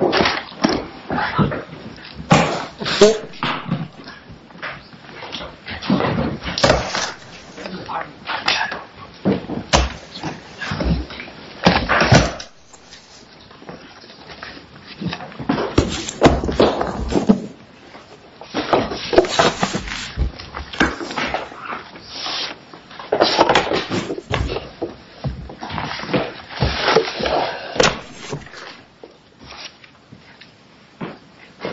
McDonald's McQuick on food on KFC on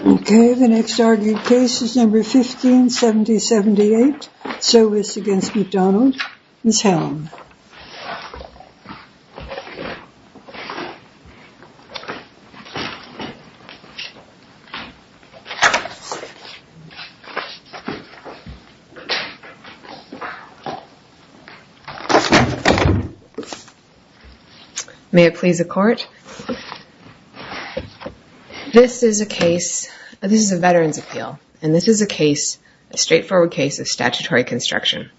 okay the next argued case is number 15 70 78 so it's against McDonald's this is a case this is a veteran's appeal and this is a case a straightforward case of statutory construction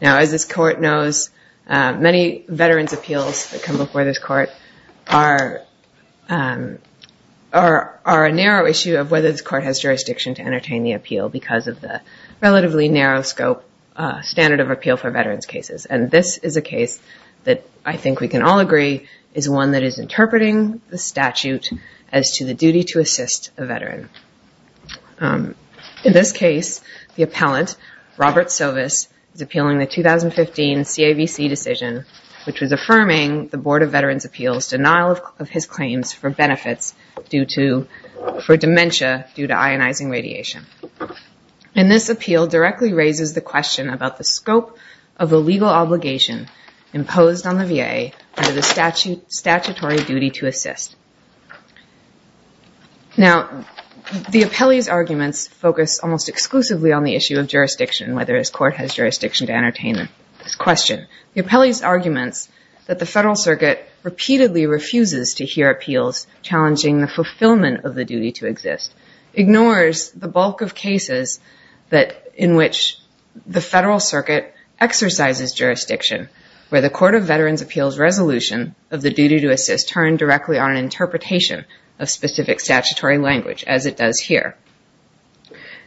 now as this court knows many veterans appeals that come before this court are are a narrow issue of whether this court has jurisdiction to entertain the appeal because of the relatively narrow scope standard of appeal for veterans cases and this is a case that I think we can all agree is one that is interpreting the statute as to the duty to assist a veteran in this case the appellant Robert service is appealing the 2015 CAVC decision which was affirming the Board of Veterans Appeals denial of his claims for benefits due to for dementia due to ionizing radiation and this appeal directly raises the question about the scope of the legal obligation imposed on the VA under the statute statutory duty to assist now the appellee's arguments focus almost exclusively on the issue of jurisdiction whether his court has jurisdiction to entertain them this question the appellee's arguments that the Federal Circuit repeatedly refuses to hear appeals challenging the fulfillment of the duty to exist ignores the bulk of cases that in which the Federal Circuit exercises jurisdiction where the Court of Veterans Appeals resolution of the duty to assist turned directly on interpretation of specific statutory language as it does here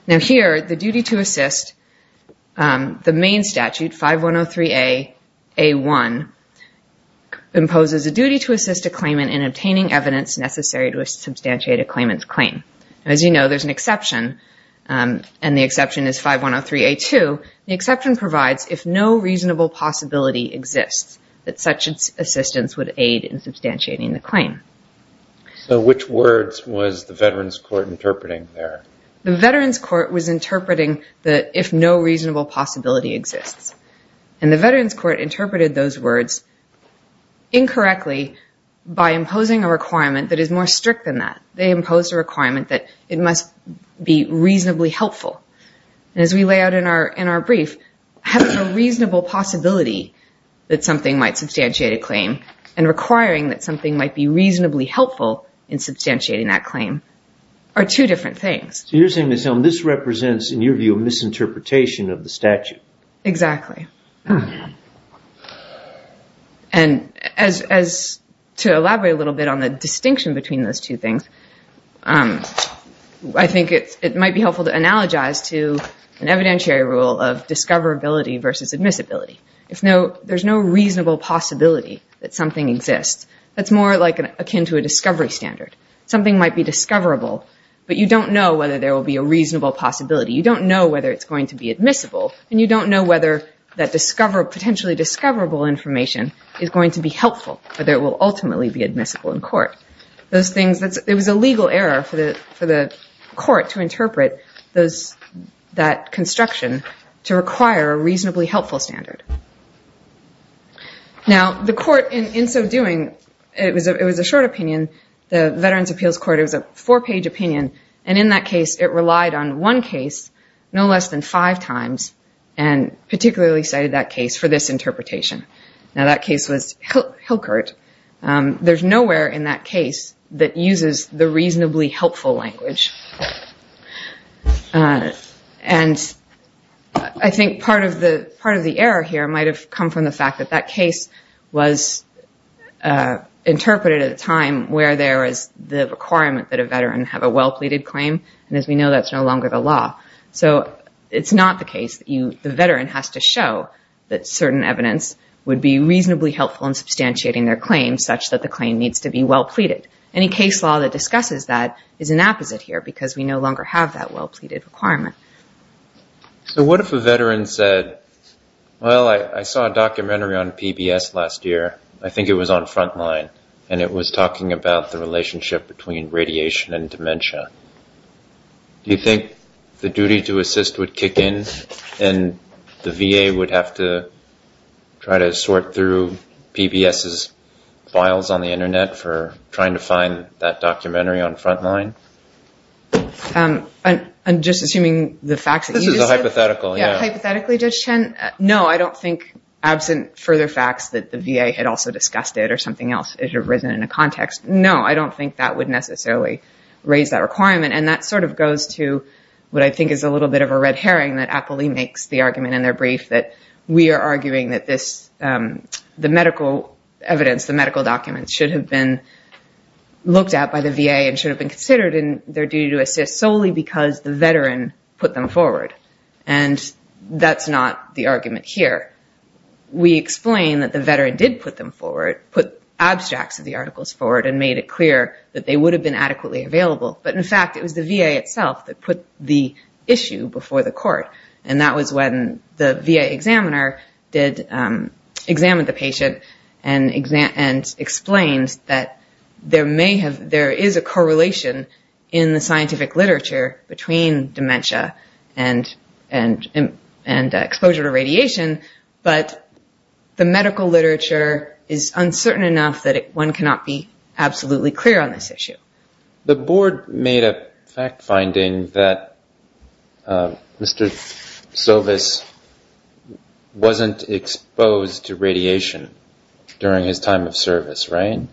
now here the duty to assist the main statute 5103 a a1 imposes a duty to assist a claimant in obtaining evidence necessary to substantiate a claimant's claim as you know there's an exception and the exception is 5103 a2 the exception provides if no reasonable possibility exists that such assistance would aid in the claim so which words was the Veterans Court interpreting there the Veterans Court was interpreting that if no reasonable possibility exists and the Veterans Court interpreted those words incorrectly by imposing a requirement that is more strict than that they impose a requirement that it must be reasonably helpful as we lay out in our in our brief have a reasonable possibility that something might substantiate a claim and requiring that something might be reasonably helpful in substantiating that claim are two different things you're saying this represents in your view of misinterpretation of the statute exactly and as to elaborate a little bit on the distinction between those two things I think it might be helpful to analogize to an evidentiary rule of discoverability versus admissibility if there's no reasonable possibility that something exists that's more like an akin to a discovery standard something might be discoverable but you don't know whether there will be a reasonable possibility you don't know whether it's going to be admissible and you don't know whether that discover potentially discoverable information is going to be helpful but there will ultimately be admissible in court those things that's it was a legal error for the for the court to interpret those that construction to require a reasonably helpful standard now the court in in so doing it was it was a short opinion the Veterans Appeals Court it was a four-page opinion and in that case it relied on one case no less than five times and particularly cited that case for this interpretation now that case was Hilkert there's nowhere in that case that uses the reasonably helpful language and I think part of the part of the error here might have come from the fact that that case was interpreted at a time where there is the requirement that a veteran have a well-pleaded claim and as we know that's no longer the law so it's not the case that you the veteran has to show that certain evidence would be reasonably helpful in well-pleaded any case law that discusses that is an apposite here because we no longer have that well-pleaded requirement so what if a veteran said well I saw a documentary on PBS last year I think it was on frontline and it was talking about the relationship between radiation and dementia you think the duty to assist would kick in and the VA would have to try to sort through PBS's files on the internet for trying to find that documentary on frontline? I'm just assuming the fact that this is a hypothetical yeah hypothetically judge Chen no I don't think absent further facts that the VA had also discussed it or something else it had risen in a context no I don't think that would necessarily raise that requirement and that sort of goes to what I think is a little bit of a red herring that Apley makes the argument in their brief that we are arguing that this the medical evidence the medical documents should have been looked at by the VA and should have been considered in their duty to assist solely because the veteran put them forward and that's not the argument here we explain that the veteran did put them forward put abstracts of the articles forward and made it clear that they would have been adequately available but in fact it was the VA itself that put the issue before the examiner did examine the patient and exam and explains that there may have there is a correlation in the scientific literature between dementia and and and exposure to radiation but the medical literature is uncertain enough that it one cannot be absolutely clear on this issue the board made a fact-finding that mr. service wasn't exposed to radiation during his time of service rain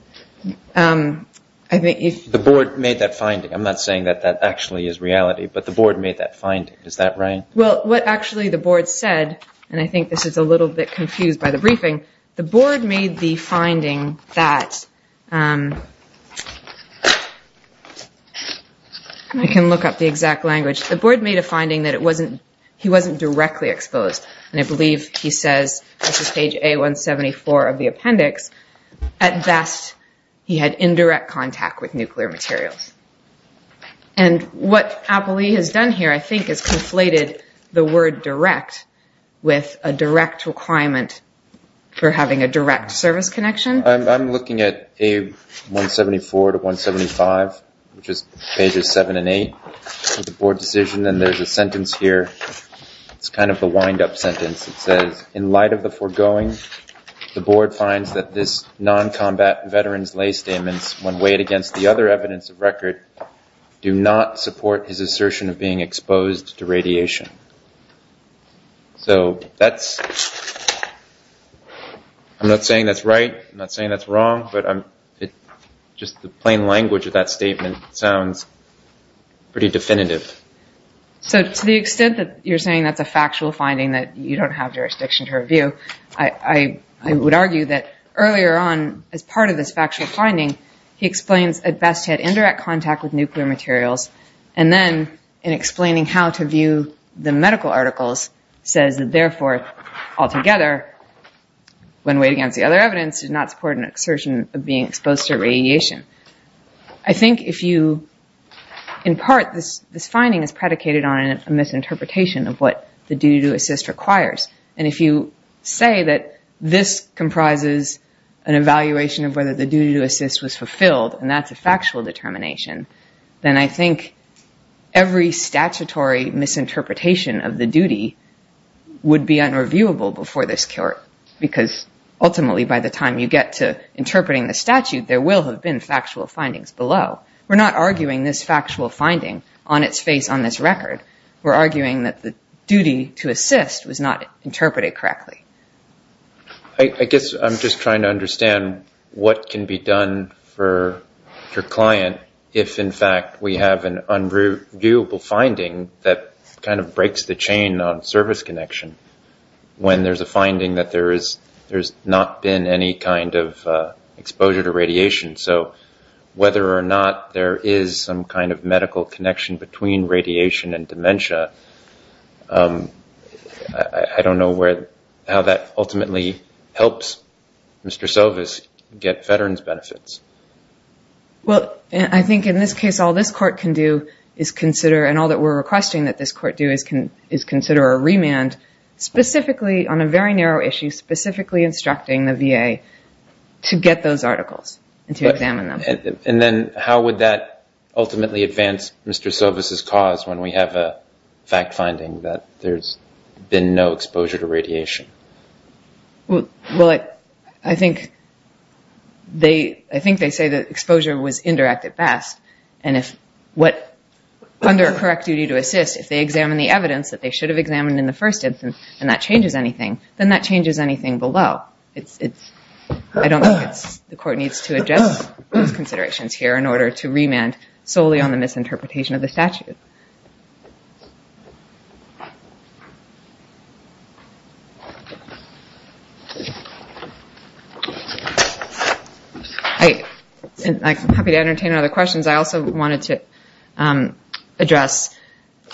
I think if the board made that finding I'm not saying that that actually is reality but the board made that find is that rain well what actually the board said and I think this is a little bit confused by the briefing the board made the finding that I can look up the exact language the board made a finding that it wasn't he wasn't directly exposed and I believe he says this is page a 174 of the appendix at best he had indirect contact with nuclear materials and what Apple he has done here I think is conflated the word direct with a direct requirement for having a direct service connection I'm looking at a 174 to 175 which is pages 7 and 8 the board decision and there's a sentence here it's kind of a wind-up sentence that says in light of the foregoing the board finds that this non-combat veterans lay statements when weighed against the other evidence of record do not support his assertion of being exposed to radiation so that's I'm not saying that's right I'm not saying that's wrong but I'm just the plain language of that statement sounds pretty definitive so to the extent that you're saying that's a factual finding that you don't have jurisdiction to review I would argue that earlier on as part of this factual finding he explains at best had indirect contact with nuclear materials and then in explaining how to view the medical articles says that therefore altogether when weighed against the other evidence does not support an assertion of being exposed to radiation I think if you in part this this finding is predicated on a misinterpretation of what the duty to assist requires and if you say that this comprises an evaluation of whether the duty to assist was fulfilled and that's factual determination then I think every statutory misinterpretation of the duty would be unreviewable before this court because ultimately by the time you get to interpreting the statute there will have been factual findings below we're not arguing this factual finding on its face on this record we're arguing that the duty to assist was not interpreted correctly I guess I'm just trying to understand what can be done for your client if in fact we have an unreviewable finding that kind of breaks the chain on service connection when there's a finding that there is there's not been any kind of exposure to radiation so whether or not there is some kind of medical connection between Mr. Sovis get veterans benefits well I think in this case all this court can do is consider and all that we're requesting that this court do is can is consider a remand specifically on a very narrow issue specifically instructing the VA to get those articles and to examine them and then how would that ultimately advance Mr. Sovis' cause when we have a fact-finding that there's been no exposure to radiation well I think they I think they say that exposure was indirect at best and if what under a correct duty to assist if they examine the evidence that they should have examined in the first instance and that changes anything then that changes anything below it's it's I don't know it's the court needs to adjust those considerations here in order to remand solely on the misinterpretation of the statute. I'm happy to entertain other questions I also wanted to address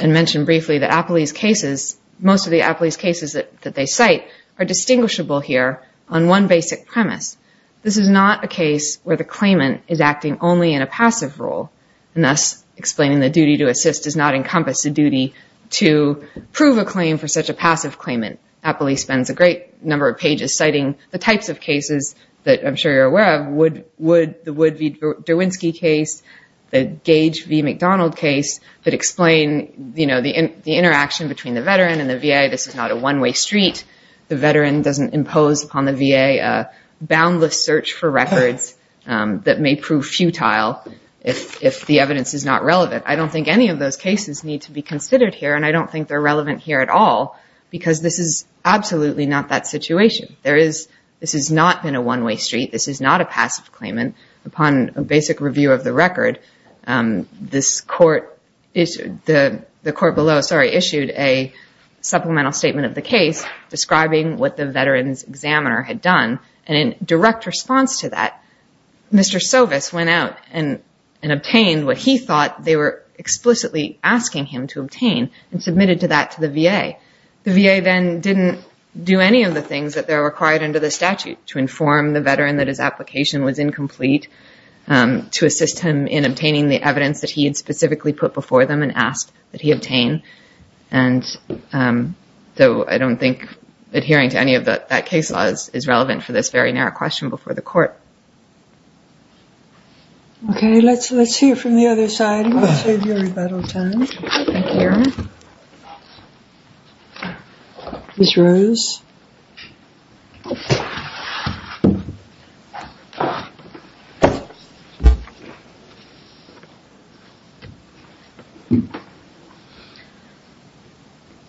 and mention briefly that Apolyse cases most of the Apolyse cases that they cite are distinguishable here on one basic premise this is not a case where the claimant is acting only in a passive role and thus explaining the duty to assist does not encompass the duty to prove a claim for such a passive claimant. Apolyse spends a great number of pages citing the types of cases that I'm sure you're aware of would would the Wood v. Derwinski case the Gage v. McDonald case that explain you know the in the interaction between the veteran and the VA this is not a one-way street the veteran doesn't impose upon the VA a boundless search for records that may prove futile if if the evidence is not relevant I don't think any of those cases need to be considered here and I don't think they're relevant here at all because this is absolutely not that situation there is this has not been a one-way street this is not a passive claimant upon a basic review of the record this court issued the the court below sorry issued a supplemental statement of the case describing what the veterans examiner had done and in response to that Mr. Sovis went out and and obtained what he thought they were explicitly asking him to obtain and submitted to that to the VA the VA then didn't do any of the things that they're required under the statute to inform the veteran that his application was incomplete to assist him in obtaining the evidence that he had specifically put before them and asked that he obtain and so I don't think adhering to any of that that case laws is relevant for this very narrow question before the court okay let's let's hear from the other side this rose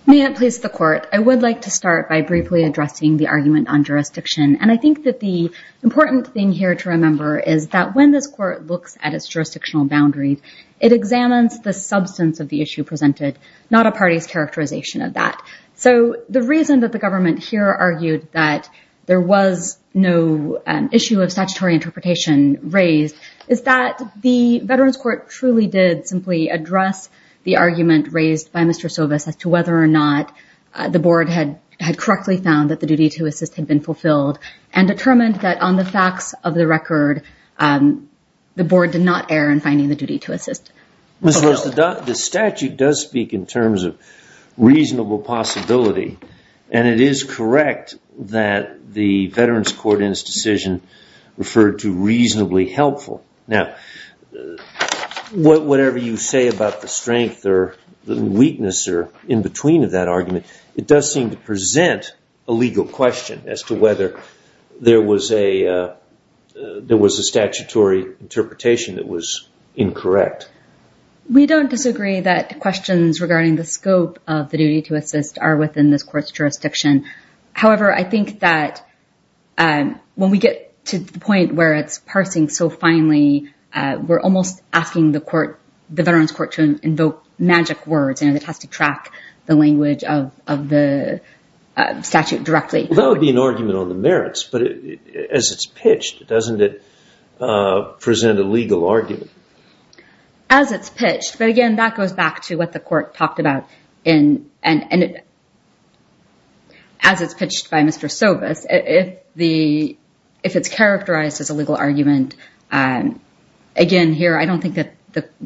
may it please the court I would like to start by briefly addressing the argument on jurisdiction and I think that the important thing here to remember is that when this court looks at its jurisdictional boundaries it examines the substance of the issue presented not a party's characterization of that so the reason that the government here argued that there was no issue of statutory interpretation raised is that the Veterans Court truly did simply address the argument raised by mr. service as to whether or not the board had had correctly found that the duty to assist had been fulfilled and determined that on the facts of the record the board did not err in finding the duty to assist mr. the statute does speak in terms of reasonable possibility and it is correct that the Veterans Court in this decision referred to reasonably helpful now what whatever you say about the strength or the weakness or in between of that argument it does seem to present a legal question as to whether there was a there was a statutory interpretation that was incorrect we don't disagree that questions regarding the scope of the duty to assist are within this court's jurisdiction however I think that when we get to the point where it's parsing so finally we're almost asking the court magic words and it has to track the language of the statute directly argument on the merits but as it's pitched doesn't it present a legal argument as it's pitched but again that goes back to what the court talked about in and as it's pitched by mr. service if the if it's characterized as a legal argument and again here I don't think that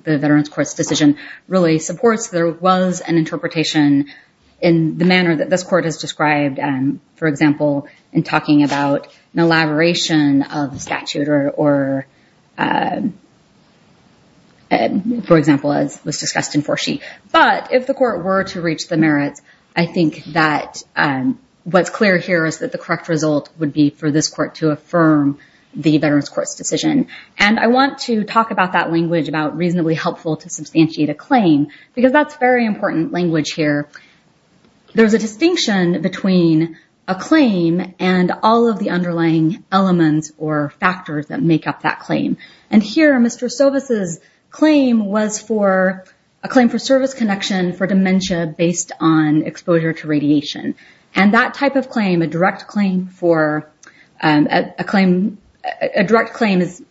the Veterans Court's decision really supports there was an interpretation in the manner that this court has described and for example in talking about an elaboration of the statute or for example as was discussed in foresheet but if the court were to reach the merits I think that and what's clear here is that the correct result would be for this court to affirm the Veterans Court's decision and I want to talk about that language about reasonably helpful to substantiate a claim because that's very important language here there's a distinction between a claim and all of the underlying elements or factors that make up that claim and here mr. service's claim was for a claim for service connection for dementia based on exposure to radiation and that type of claim a direct claim for a claim a direct claim is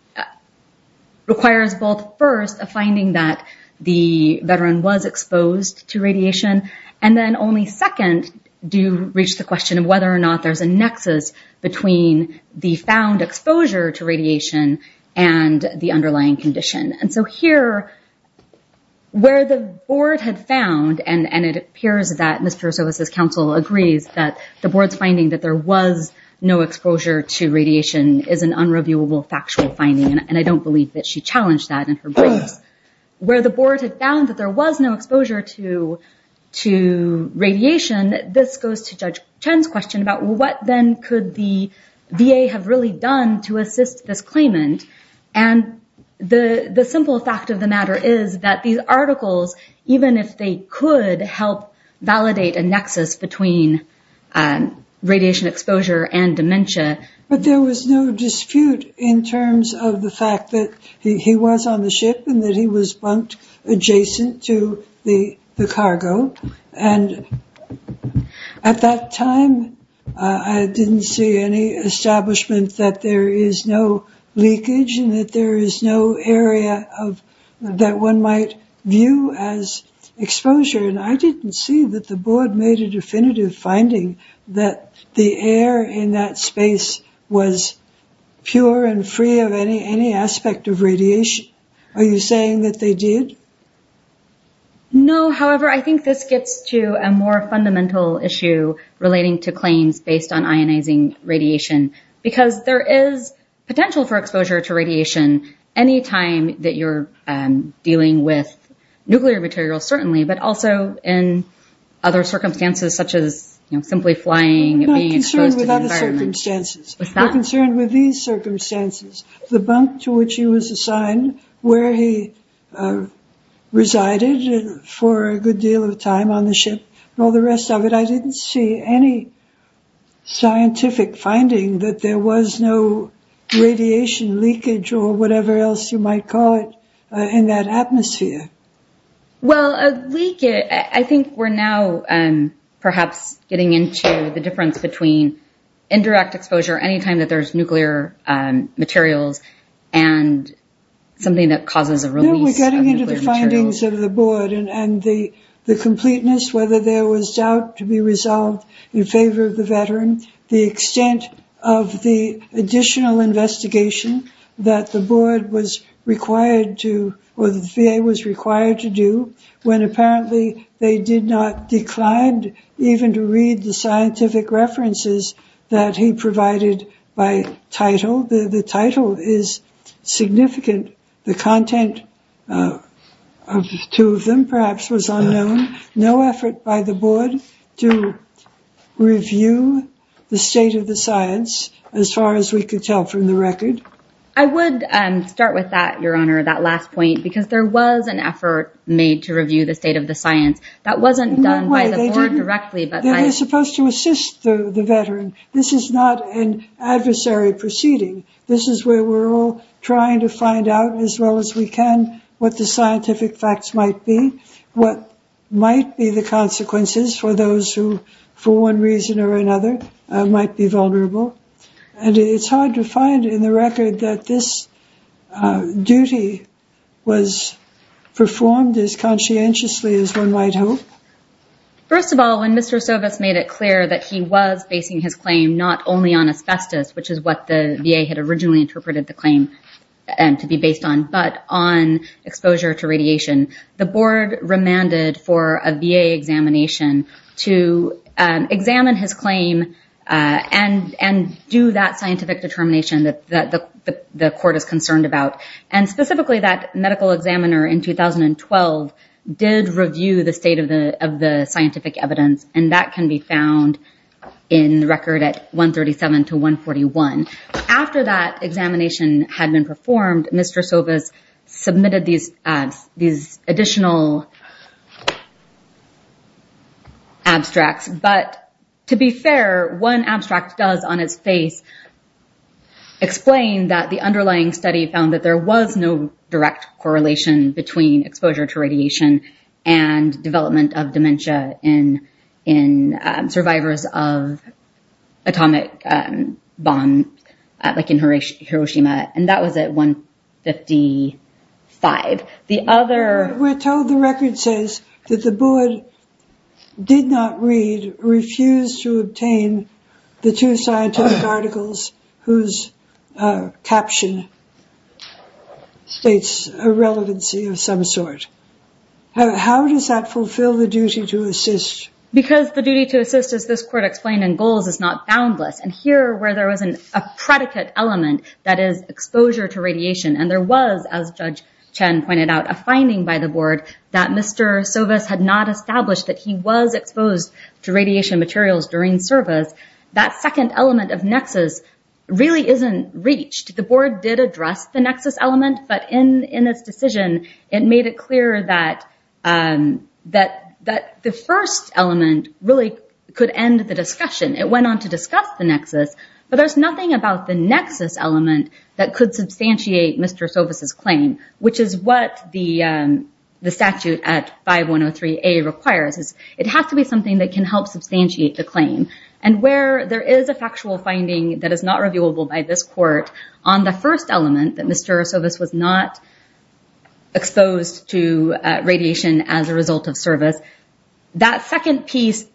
requires both first a finding that the veteran was exposed to radiation and then only second do reach the question of whether or not there's a nexus between the found exposure to radiation and the underlying condition and so here where the board had found and and it appears that mr. services counsel agrees that the board's finding that there was no exposure to radiation is an unreviewable factual finding and I don't believe that she challenged that in her place where the board had found that there was no exposure to to radiation this goes to judge Chen's question about what then could the VA have really done to assist this claimant and the the simple fact of the matter is that these articles even if they could help validate a nexus between radiation exposure and dementia but there was no dispute in terms of the fact that he was on the ship and that he was bumped adjacent to the the cargo and at that time I didn't see any establishment that there is no leakage and that there is no area of that one view as exposure and I didn't see that the board made a definitive finding that the air in that space was pure and free of any any aspect of radiation are you saying that they did no however I think this gets to a more fundamental issue relating to claims based on ionizing radiation because there is potential for nuclear materials certainly but also in other circumstances such as you know simply flying concerned with these circumstances the bunk to which he was assigned where he resided for a good deal of time on the ship and all the rest of it I didn't see any scientific finding that there was no radiation leakage or whatever else you might call it in that atmosphere well a leak it I think we're now and perhaps getting into the difference between indirect exposure anytime that there's nuclear materials and something that causes a release we're getting into the findings of the board and the the completeness whether there was doubt to be resolved in favor of the veteran the extent of the additional investigation that the board was required to or the VA was required to do when apparently they did not declined even to read the scientific references that he provided by title the title is significant the content of two of them perhaps was unknown no effort by the board to review the state of the science as far as we could tell from the record I would start with that your honor that last point because there was an effort made to review the state of the science that wasn't done directly but they're supposed to assist the veteran this is not an adversary proceeding this is where we're all trying to find out as well as we can what the scientific facts might be what might be the consequences for those who for one reason or another might be vulnerable and it's hard to find in the record that this duty was performed as conscientiously as one might hope first of all when mr. service made it clear that he was basing his claim not only on asbestos which is what the VA had originally interpreted the claim and to be based on but on exposure to radiation the board remanded for a VA examination to examine his claim and and do that scientific determination that the court is concerned about and specifically that medical examiner in 2012 did review the state of the of the scientific evidence and that can be found in the record at 137 to 141 after that examination had been performed mr. service submitted these ads these additional abstracts but to be fair one abstract does on its face explain that the underlying study found that there was no direct correlation between exposure to radiation and development of dementia in in survivors of atomic bomb like in Horatio Hiroshima and that was at 155 the other we're told the record says that the board did not read refused to obtain the two scientific articles whose caption states a relevancy of some sort how does that fulfill the duty to assist because the duty to assist as this court explained in goals is not boundless and here where there was an a and there was as judge pointed out a finding by the board that mr. service had not established that he was exposed to radiation materials during service that second element of nexus really isn't reached the board did address the nexus element but in in this decision it made it clear that that that the first element really could end the discussion it went on to discuss the nexus but there's nothing about the nexus element that could substantiate mr. services claim which is what the the statute at 5103 a requires is it has to be something that can help substantiate the claim and where there is a factual finding that is not reviewable by this court on the first element that mr. service was not exposed to radiation as a result of service that second piece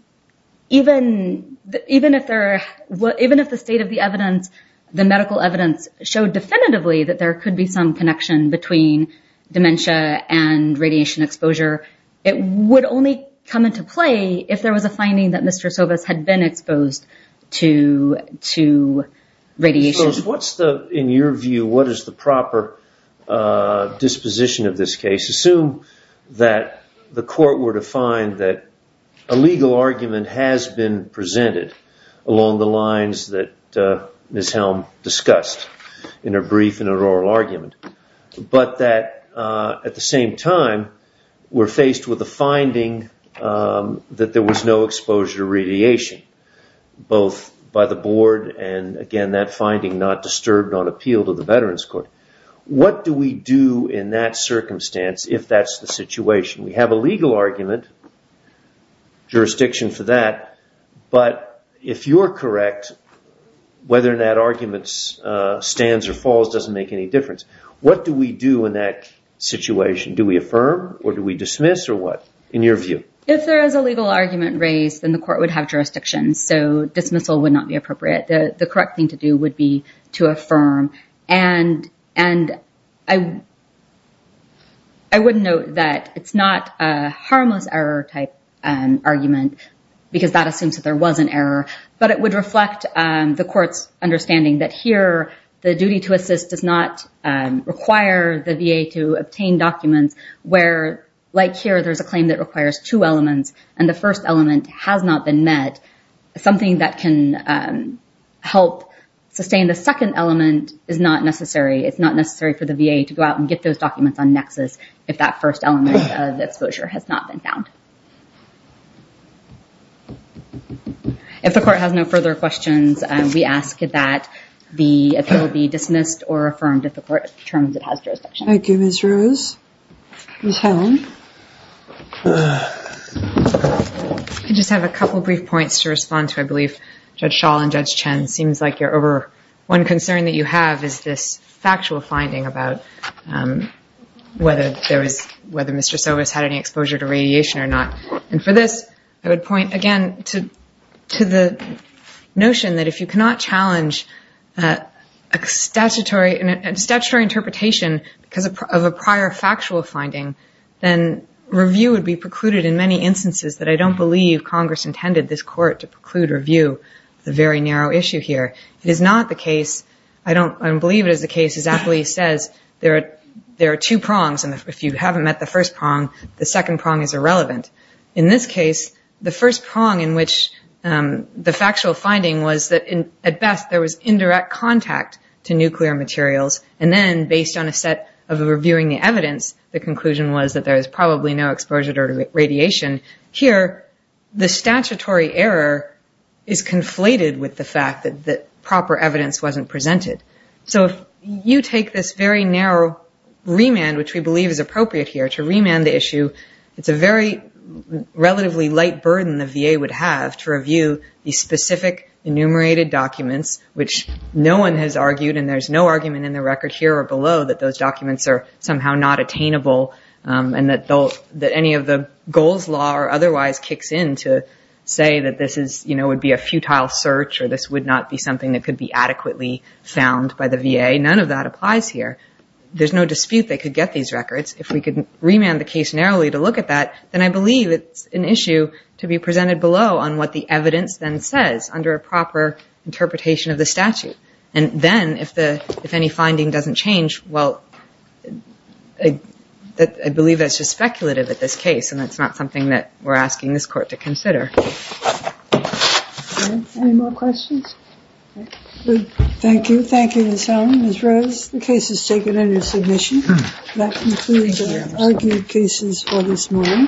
even even if they're what even if the state of the evidence the medical evidence showed definitively that there could be some connection between dementia and radiation exposure it would only come into play if there was a finding that mr. service had been exposed to to radiation what's the in your view what is the proper disposition of this case assume that the court were to find that a legal argument has been presented along the lines that miss Helm discussed in a brief in an oral argument but that at the same time we're faced with a finding that there was no exposure radiation both by the board and again that finding not disturbed on appeal to the Veterans Court what do we do in that circumstance if that's the situation we have a legal argument jurisdiction for that but if you're correct whether that arguments stands or falls doesn't make any difference what do we do in that situation do we affirm or do we dismiss or what in your view if there is a legal argument raised in the court would have jurisdiction so dismissal would not be appropriate the correct thing to do would be to affirm and and I I wouldn't know that it's not a harmless error type and argument because that assumes that there was an error but it would reflect the courts understanding that here the duty to assist does not require the VA to obtain documents where like here there's a claim that requires two elements and the first element has not been met something that can help sustain the second element is not necessary it's not necessary for the VA to go out and get those documents on nexus if that first element of exposure has not been found if the court has no further questions we ask that the appeal be dismissed or affirmed if the court determines it has I just have a couple brief points to respond to I believe judge shawl and judge Chen seems like you're over one concern that you have is this factual finding about whether there was whether mr. service had any exposure to radiation or not and for this I would point again to to the notion that if you because of a prior factual finding then review would be precluded in many instances that I don't believe Congress intended this court to preclude review the very narrow issue here it is not the case I don't believe it is the case as Apley says there are there are two prongs and if you haven't met the first prong the second prong is irrelevant in this case the first prong in which the factual finding was that in at best there was indirect contact to nuclear materials and then based on a set of reviewing the evidence the conclusion was that there is probably no exposure to radiation here the statutory error is conflated with the fact that that proper evidence wasn't presented so if you take this very narrow remand which we believe is appropriate here to remand the issue it's a very relatively light burden the VA would have to review the specific enumerated documents which no one has argued and there's no argument in the record here or below that those documents are somehow not attainable and that they'll that any of the goals law or otherwise kicks in to say that this is you know would be a futile search or this would not be something that could be adequately found by the VA none of that applies here there's no dispute they could get these records if we could remand the case narrowly to look at that then I believe it's an issue to be presented below on what the evidence then says under a proper interpretation of the statute and then if the if any finding doesn't change well I believe that's just speculative at this case and it's not something that we're asking this court to consider. Any more questions? Thank you. Thank you Ms. Heldman. Ms. Rose, the case is taken under submission. That concludes our argued cases for this morning. All rise. Thank you.